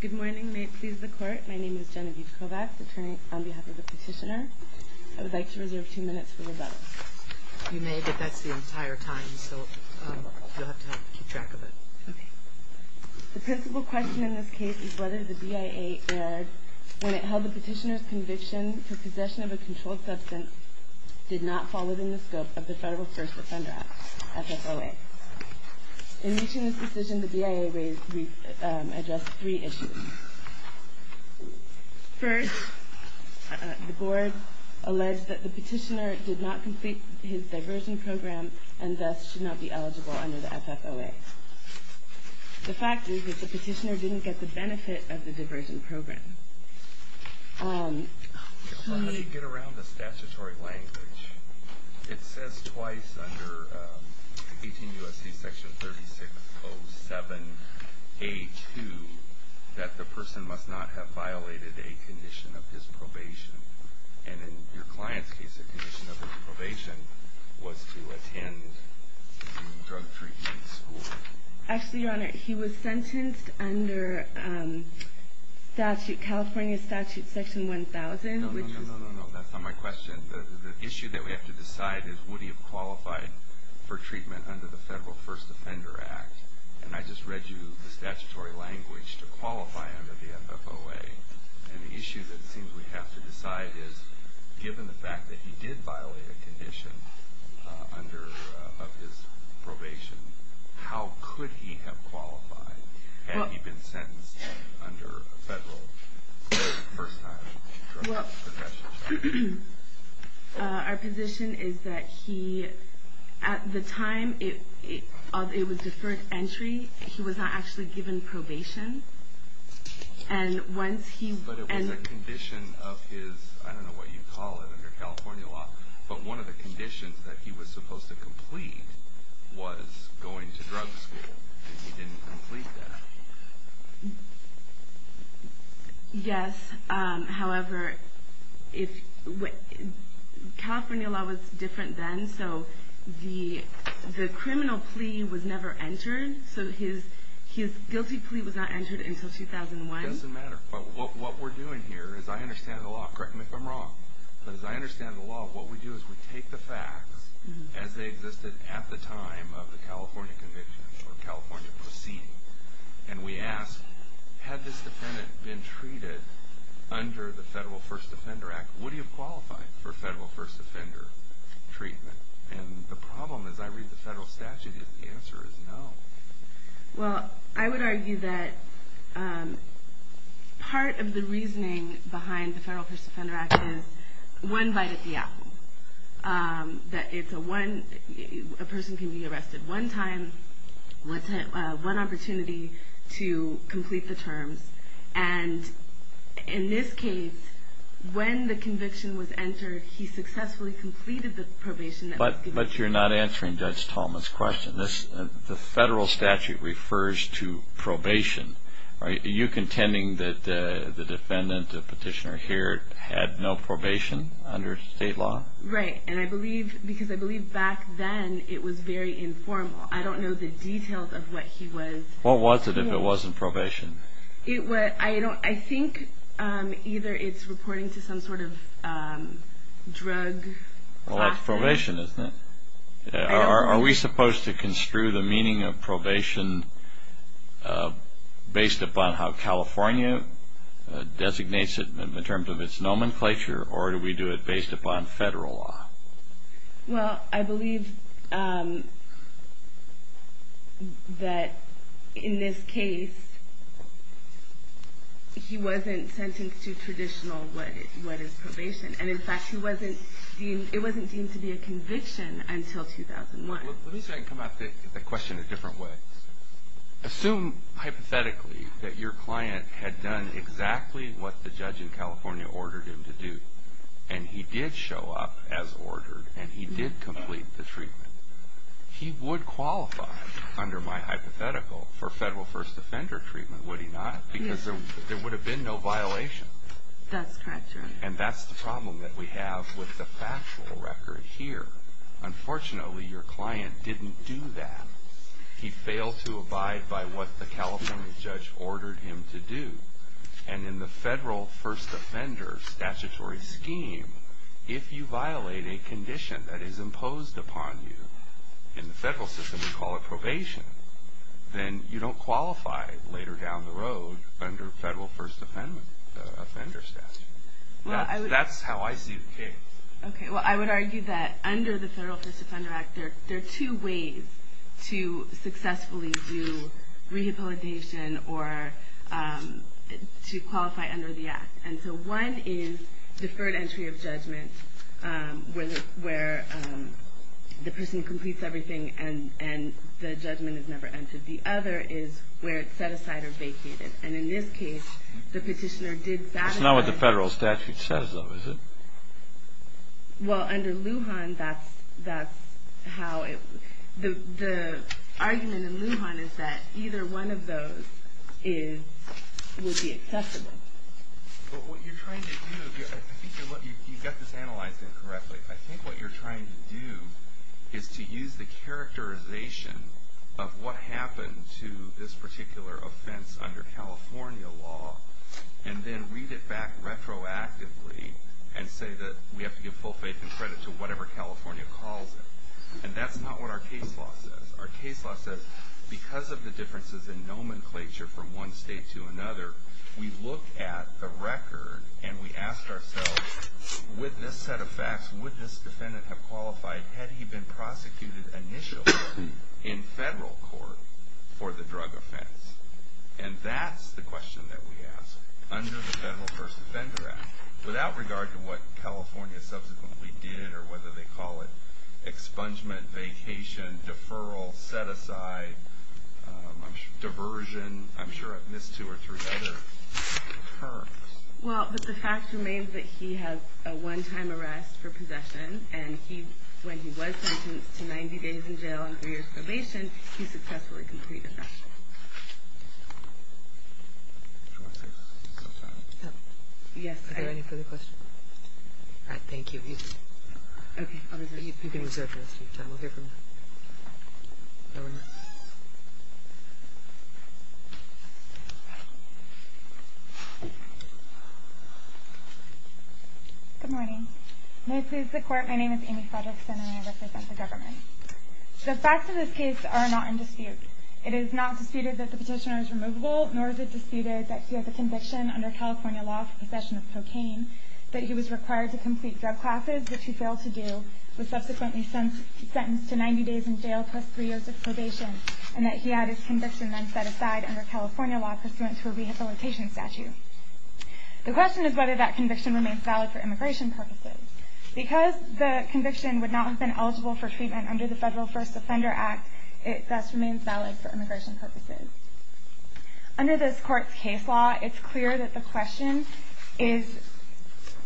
Good morning, may it please the court. My name is Genevieve Kovacs, attorney on behalf of the petitioner. I would like to reserve two minutes for rebuttal. You may, but that's the entire time, so you'll have to help keep track of it. The principal question in this case is whether the BIA erred when it held the petitioner's conviction for possession of a controlled substance did not fall within the scope of the Federal First Offender Act, FFOA. In reaching this decision, the BIA addressed three issues. First, the board alleged that the petitioner did not complete his diversion program and thus should not be eligible under the FFOA. The fact is that the petitioner didn't get the benefit of the diversion program. How do you get around the statutory language? It says twice under 18 U.S.C. section 3607A.2 that the person must not have violated a condition of his probation. And in your client's case, a condition of his probation was to attend drug treatment school. Actually, Your Honor, he was sentenced under California statute section 1000. No, no, no, that's not my question. The issue that we have to decide is would he have qualified for treatment under the Federal First Offender Act. And I just read you the statutory language to qualify under the FFOA. And the issue that it seems we have to decide is, given the fact that he did violate a condition of his probation, how could he have qualified? Had he been sentenced under a Federal first time drug possession? Our position is that he, at the time it was deferred entry, he was not actually given probation. But it was a condition of his, I don't know what you call it under California law, but one of the conditions that he was supposed to complete was going to drug school. And he didn't complete that. Yes, however, California law was different then, so the criminal plea was never entered. So his guilty plea was not entered until 2001. It doesn't matter. What we're doing here, as I understand the law, correct me if I'm wrong, but as I understand the law, what we do is we take the facts as they existed at the time of the California conviction or California proceeding. And we ask, had this defendant been treated under the Federal First Offender Act, would he have qualified for Federal First Offender treatment? And the problem, as I read the Federal statute, is the answer is no. Well, I would argue that part of the reasoning behind the Federal First Offender Act is one bite at the apple. That it's a one, a person can be arrested one time, one opportunity to complete the terms. And in this case, when the conviction was entered, he successfully completed the probation. But you're not answering Judge Tallman's question. The Federal statute refers to probation. Are you contending that the defendant, the petitioner here, had no probation under state law? Right. And I believe, because I believe back then it was very informal. I don't know the details of what he was. What was it if it wasn't probation? I think either it's reporting to some sort of drug. Well, that's probation, isn't it? Are we supposed to construe the meaning of probation based upon how California designates it in terms of its nomenclature? Or do we do it based upon Federal law? Well, I believe that in this case, he wasn't sentenced to traditional what is probation. And in fact, it wasn't deemed to be a conviction until 2001. Let me see if I can come at the question a different way. Assume, hypothetically, that your client had done exactly what the judge in California ordered him to do. And he did show up as ordered, and he did complete the treatment. He would qualify, under my hypothetical, for Federal first offender treatment, would he not? Yes. Because there would have been no violation. That's correct, Your Honor. And that's the problem that we have with the factual record here. Unfortunately, your client didn't do that. He failed to abide by what the California judge ordered him to do. And in the Federal first offender statutory scheme, if you violate a condition that is imposed upon you, in the Federal system we call it probation, then you don't qualify later down the road under Federal first offender statute. That's how I see the case. Okay. Well, I would argue that under the Federal first offender act, there are two ways to successfully do rehabilitation or to qualify under the act. And so one is deferred entry of judgment, where the person completes everything and the judgment is never entered. The other is where it's set aside or vacated. And in this case, the petitioner did satisfy. That's not what the Federal statute says, though, is it? Well, under Lujan, that's how it – the argument in Lujan is that either one of those is – would be acceptable. But what you're trying to do – I think you've got this analyzed incorrectly. I think what you're trying to do is to use the characterization of what happened to this particular offense under California law and then read it back retroactively and say that we have to give full faith and credit to whatever California calls it. And that's not what our case law says. Our case law says because of the differences in nomenclature from one state to another, we look at the record and we ask ourselves, with this set of facts, would this defendant have qualified, had he been prosecuted initially in Federal court for the drug offense? And that's the question that we ask under the Federal First Offender Act, without regard to what California subsequently did or whether they call it expungement, vacation, deferral, set-aside, diversion. I'm sure I've missed two or three other terms. Well, but the fact remains that he has a one-time arrest for possession, and when he was sentenced to 90 days in jail and three years probation, he successfully completed that. Are there any further questions? All right, thank you. You can reserve your rest of your time. We'll hear from the governor. Good morning. May it please the Court, my name is Amy Fredrickson, and I represent the government. The facts of this case are not in dispute. It is not disputed that the petitioner is removable, nor is it disputed that he has a conviction under California law for possession of cocaine, that he was required to complete drug classes, which he failed to do, was subsequently sentenced to 90 days in jail plus three years of probation, and that he had his conviction then set aside under California law pursuant to a rehabilitation statute. The question is whether that conviction remains valid for immigration purposes. Because the conviction would not have been eligible for treatment under the Federal First Offender Act, it thus remains valid for immigration purposes. Under this Court's case law, it's clear that the question is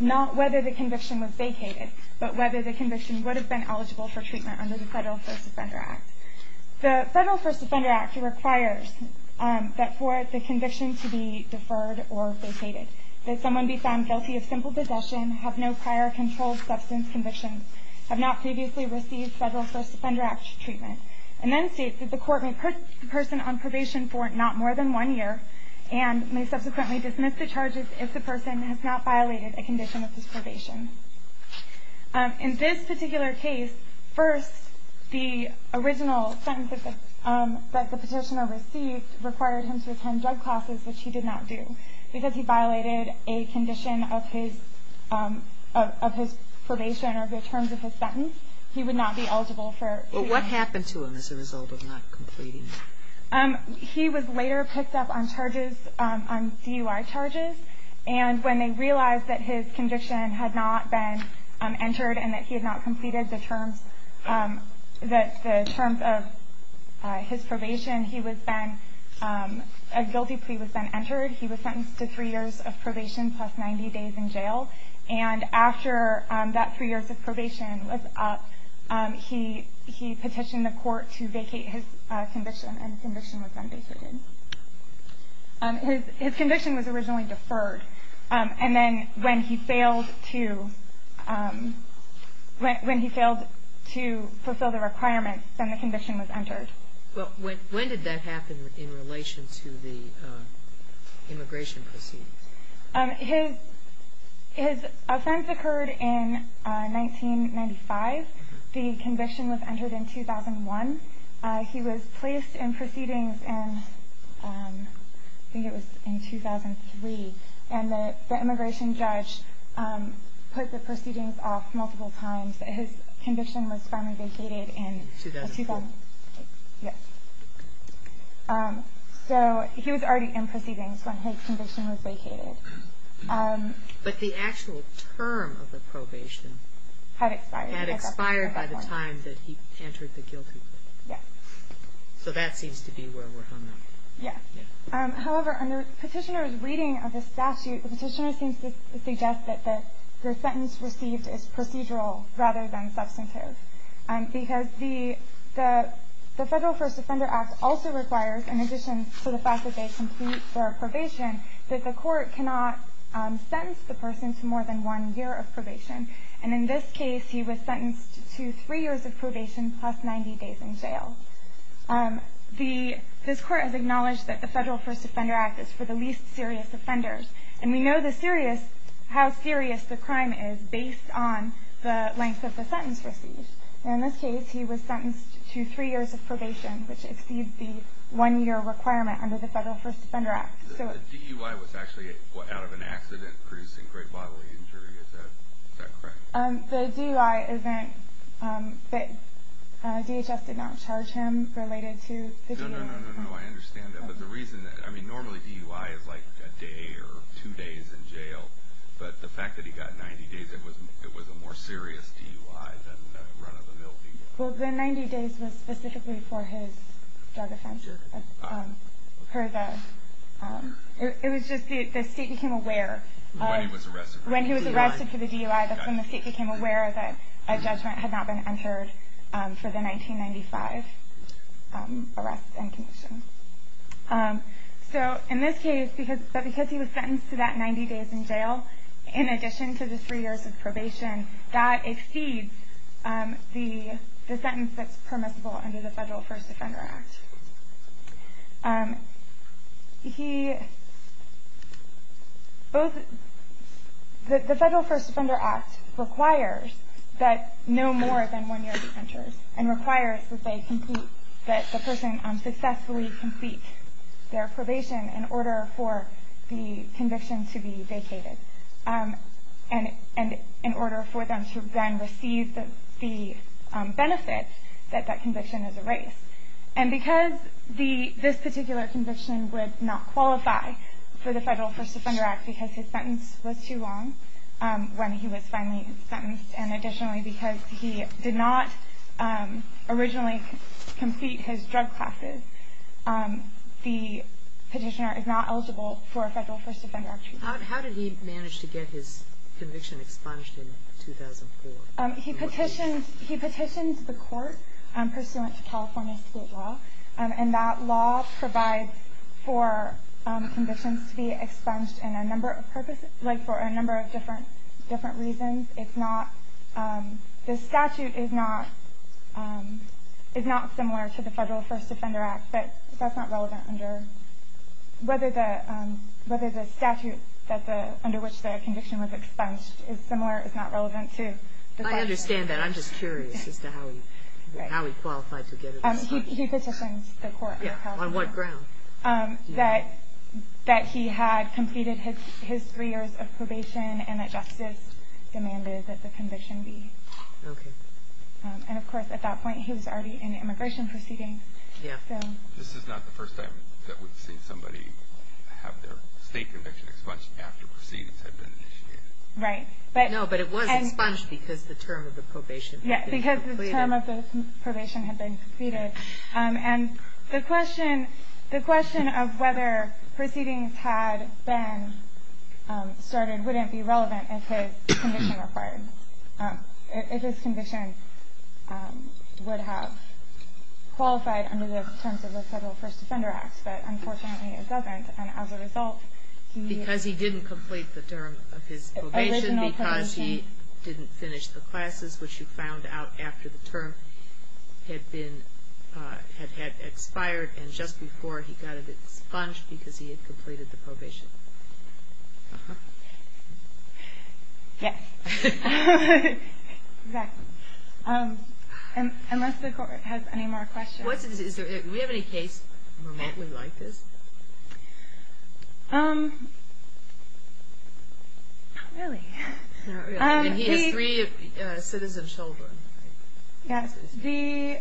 not whether the conviction was vacated, but whether the conviction would have been eligible for treatment under the Federal First Offender Act. The Federal First Offender Act requires that for the conviction to be deferred or vacated, that someone be found guilty of simple possession, have no prior controlled substance convictions, have not previously received Federal First Offender Act treatment, and then states that the court may put the person on probation for not more than one year, and may subsequently dismiss the charges if the person has not violated a condition of his probation. In this particular case, first, the original sentence that the petitioner received required him to attend drug classes, which he did not do. Because he violated a condition of his probation or the terms of his sentence, he would not be eligible for treatment. What happened to him as a result of not completing it? He was later picked up on charges, on DUI charges, and when they realized that his conviction had not been entered and that he had not completed the terms of his probation, a guilty plea was then entered. He was sentenced to three years of probation plus 90 days in jail. And after that three years of probation was up, he petitioned the court to vacate his conviction, and his conviction was then vacated. His conviction was originally deferred. And then when he failed to fulfill the requirements, then the conviction was entered. Well, when did that happen in relation to the immigration proceedings? His offense occurred in 1995. The conviction was entered in 2001. He was placed in proceedings in, I think it was in 2003, and the immigration judge put the proceedings off multiple times. His conviction was finally vacated in 2004. So he was already in proceedings when his conviction was vacated. But the actual term of the probation had expired by the time that he entered the guilty plea. Yes. So that seems to be where we're hung up. Yes. However, under Petitioner's reading of the statute, the Petitioner seems to suggest that the sentence received is procedural rather than substantive, because the Federal First Offender Act also requires, in addition to the fact that they complete their probation, that the court cannot sentence the person to more than one year of probation. And in this case, he was sentenced to three years of probation plus 90 days in jail. This court has acknowledged that the Federal First Offender Act is for the least serious offenders, and we know how serious the crime is based on the length of the sentence received. And in this case, he was sentenced to three years of probation, which exceeds the one-year requirement under the Federal First Offender Act. The DUI was actually out of an accident producing great bodily injury, is that correct? The DUI event, DHS did not charge him related to the DUI. No, no, no, no, no, I understand that. But the reason that, I mean, normally DUI is like a day or two days in jail, but the fact that he got 90 days, it was a more serious DUI than run-of-the-mill DUI. Well, the 90 days was specifically for his drug offense. It was just the state became aware when he was arrested for the DUI, that's when the state became aware that a judgment had not been entered for the 1995 arrest and conviction. So in this case, because he was sentenced to that 90 days in jail, in addition to the three years of probation, that exceeds the sentence that's permissible under the Federal First Offender Act. The Federal First Offender Act requires that no more than one-year defenders, and requires that the person successfully complete their probation in order for the conviction to be vacated, and in order for them to then receive the benefit that that conviction is erased. And because this particular conviction would not qualify for the Federal First Offender Act because his sentence was too long when he was finally sentenced, and additionally because he did not originally complete his drug classes, the petitioner is not eligible for a Federal First Offender Act treatment. How did he manage to get his conviction expunged in 2004? He petitioned the court pursuant to California state law, and that law provides for convictions to be expunged for a number of different reasons. The statute is not similar to the Federal First Offender Act, but that's not relevant under whether the statute under which the conviction was expunged is similar. It's not relevant to the statute. I understand that. I'm just curious as to how he qualified to get it expunged. He petitioned the court. On what ground? That he had completed his three years of probation and that justice demanded that the conviction be expunged. And, of course, at that point he was already in immigration proceedings. This is not the first time that we've seen somebody have their state conviction expunged after proceedings have been initiated. Right. No, but it was expunged because the term of the probation had been completed. Yes, because the term of the probation had been completed. And the question of whether proceedings had been started wouldn't be relevant if his conviction would have qualified under the terms of the Federal First Offender Act. But, unfortunately, it doesn't. And, as a result, he... Because he didn't complete the term of his probation, because he didn't finish the classes, which you found out after the term had expired and just before he got it expunged because he had completed the probation. Uh-huh. Yes. Exactly. Unless the court has any more questions. Do we have any case remotely like this? Not really. He has three citizen children. Yes. The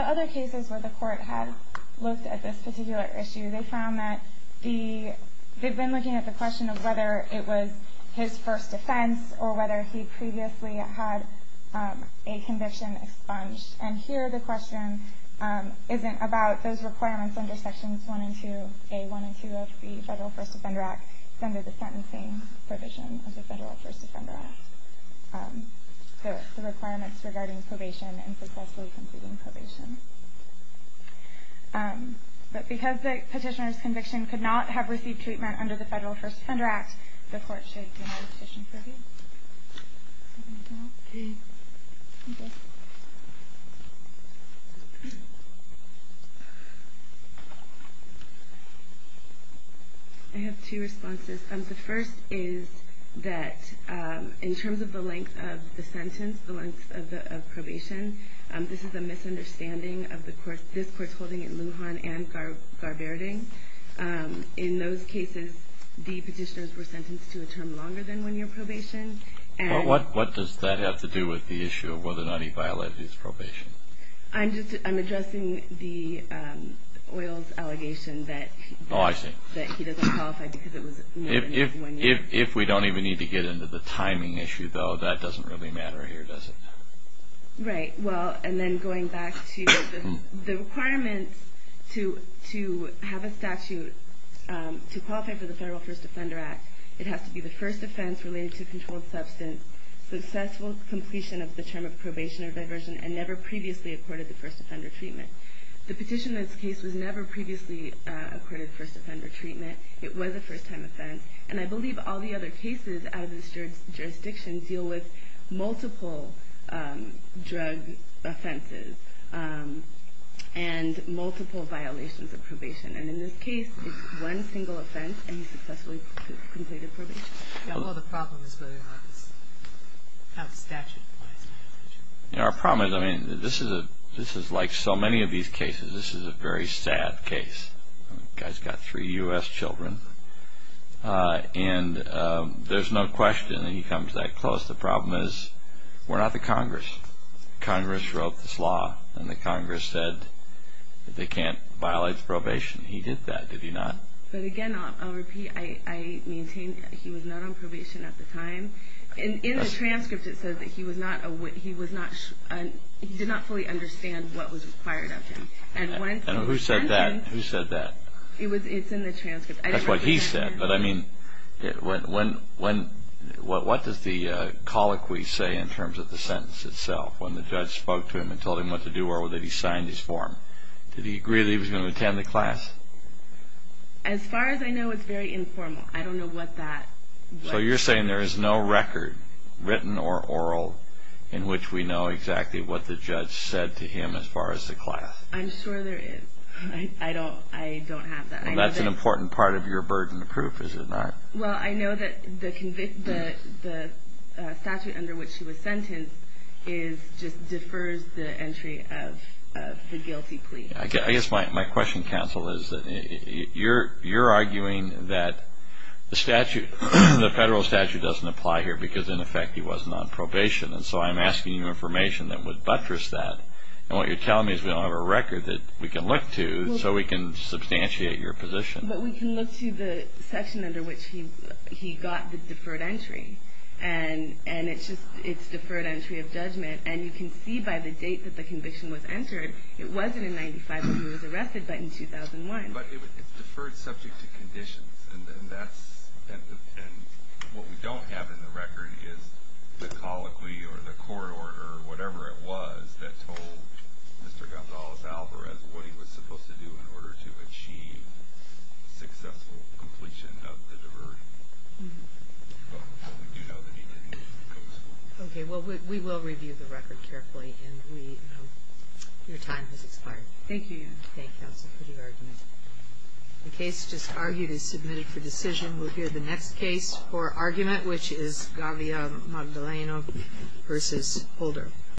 other cases where the court had looked at this particular issue, they found that they'd been looking at the question of whether it was his first offense or whether he previously had a conviction expunged. And here the question isn't about those requirements under Sections 1 and 2, Sections A, 1, and 2 of the Federal First Offender Act, it's under the sentencing provision of the Federal First Offender Act, the requirements regarding probation and successfully completing probation. But because the petitioner's conviction could not have received treatment under the Federal First Offender Act, the court should have a petition for him. Okay. Thank you. I have two responses. The first is that in terms of the length of the sentence, the length of probation, this is a misunderstanding of this court's holding in Lujan and Garberding. In those cases, the petitioners were sentenced to a term longer than one year probation. What does that have to do with the issue of whether or not he violated his probation? I'm addressing the OILS allegation that he doesn't qualify because it was more than one year. If we don't even need to get into the timing issue, though, that doesn't really matter here, does it? Right. Well, and then going back to the requirements to have a statute to qualify for the Federal First Offender Act, it has to be the first offense related to controlled substance, successful completion of the term of probation or diversion, and never previously accorded the first offender treatment. The petitioner's case was never previously accorded first offender treatment. It was a first-time offense. And I believe all the other cases out of this jurisdiction deal with multiple drug offenses and multiple violations of probation. And in this case, it's one single offense, and he successfully completed probation. Yeah, well, the problem is whether or not this statute applies. Our problem is, I mean, this is like so many of these cases. This is a very sad case. This guy's got three U.S. children, and there's no question that he comes that close. The problem is we're not the Congress. Congress wrote this law, and the Congress said that they can't violate the probation. He did that, did he not? But, again, I'll repeat, I maintain he was not on probation at the time. In the transcript, it says that he did not fully understand what was required of him. And who said that? Who said that? It's in the transcript. That's what he said. But, I mean, what does the colloquy say in terms of the sentence itself, when the judge spoke to him and told him what to do or whether he signed his form? Did he agree that he was going to attend the class? As far as I know, it's very informal. I don't know what that was. So you're saying there is no record, written or oral, in which we know exactly what the judge said to him as far as the class. I'm sure there is. I don't have that. Well, that's an important part of your burden of proof, is it not? Well, I know that the statute under which he was sentenced just defers the entry of the guilty plea. I guess my question, counsel, is that you're arguing that the federal statute doesn't apply here because, in effect, he wasn't on probation. And so I'm asking you information that would buttress that. And what you're telling me is we don't have a record that we can look to so we can substantiate your position. But we can look to the section under which he got the deferred entry. And it's deferred entry of judgment. And you can see by the date that the conviction was entered, it wasn't in 1995 that he was arrested, but in 2001. But it's deferred subject to conditions. And what we don't have in the record is the colloquy or the court order or whatever it was that told Mr. Gonzalez-Alvarez what he was supposed to do in order to achieve successful completion of the diversion. But we do know that he didn't go to school. Okay. Well, we will review the record carefully. And your time has expired. Thank you. Thank you, counsel, for the argument. The case just argued is submitted for decision. We'll hear the next case for argument, which is Gavia Magdaleno v. Holder.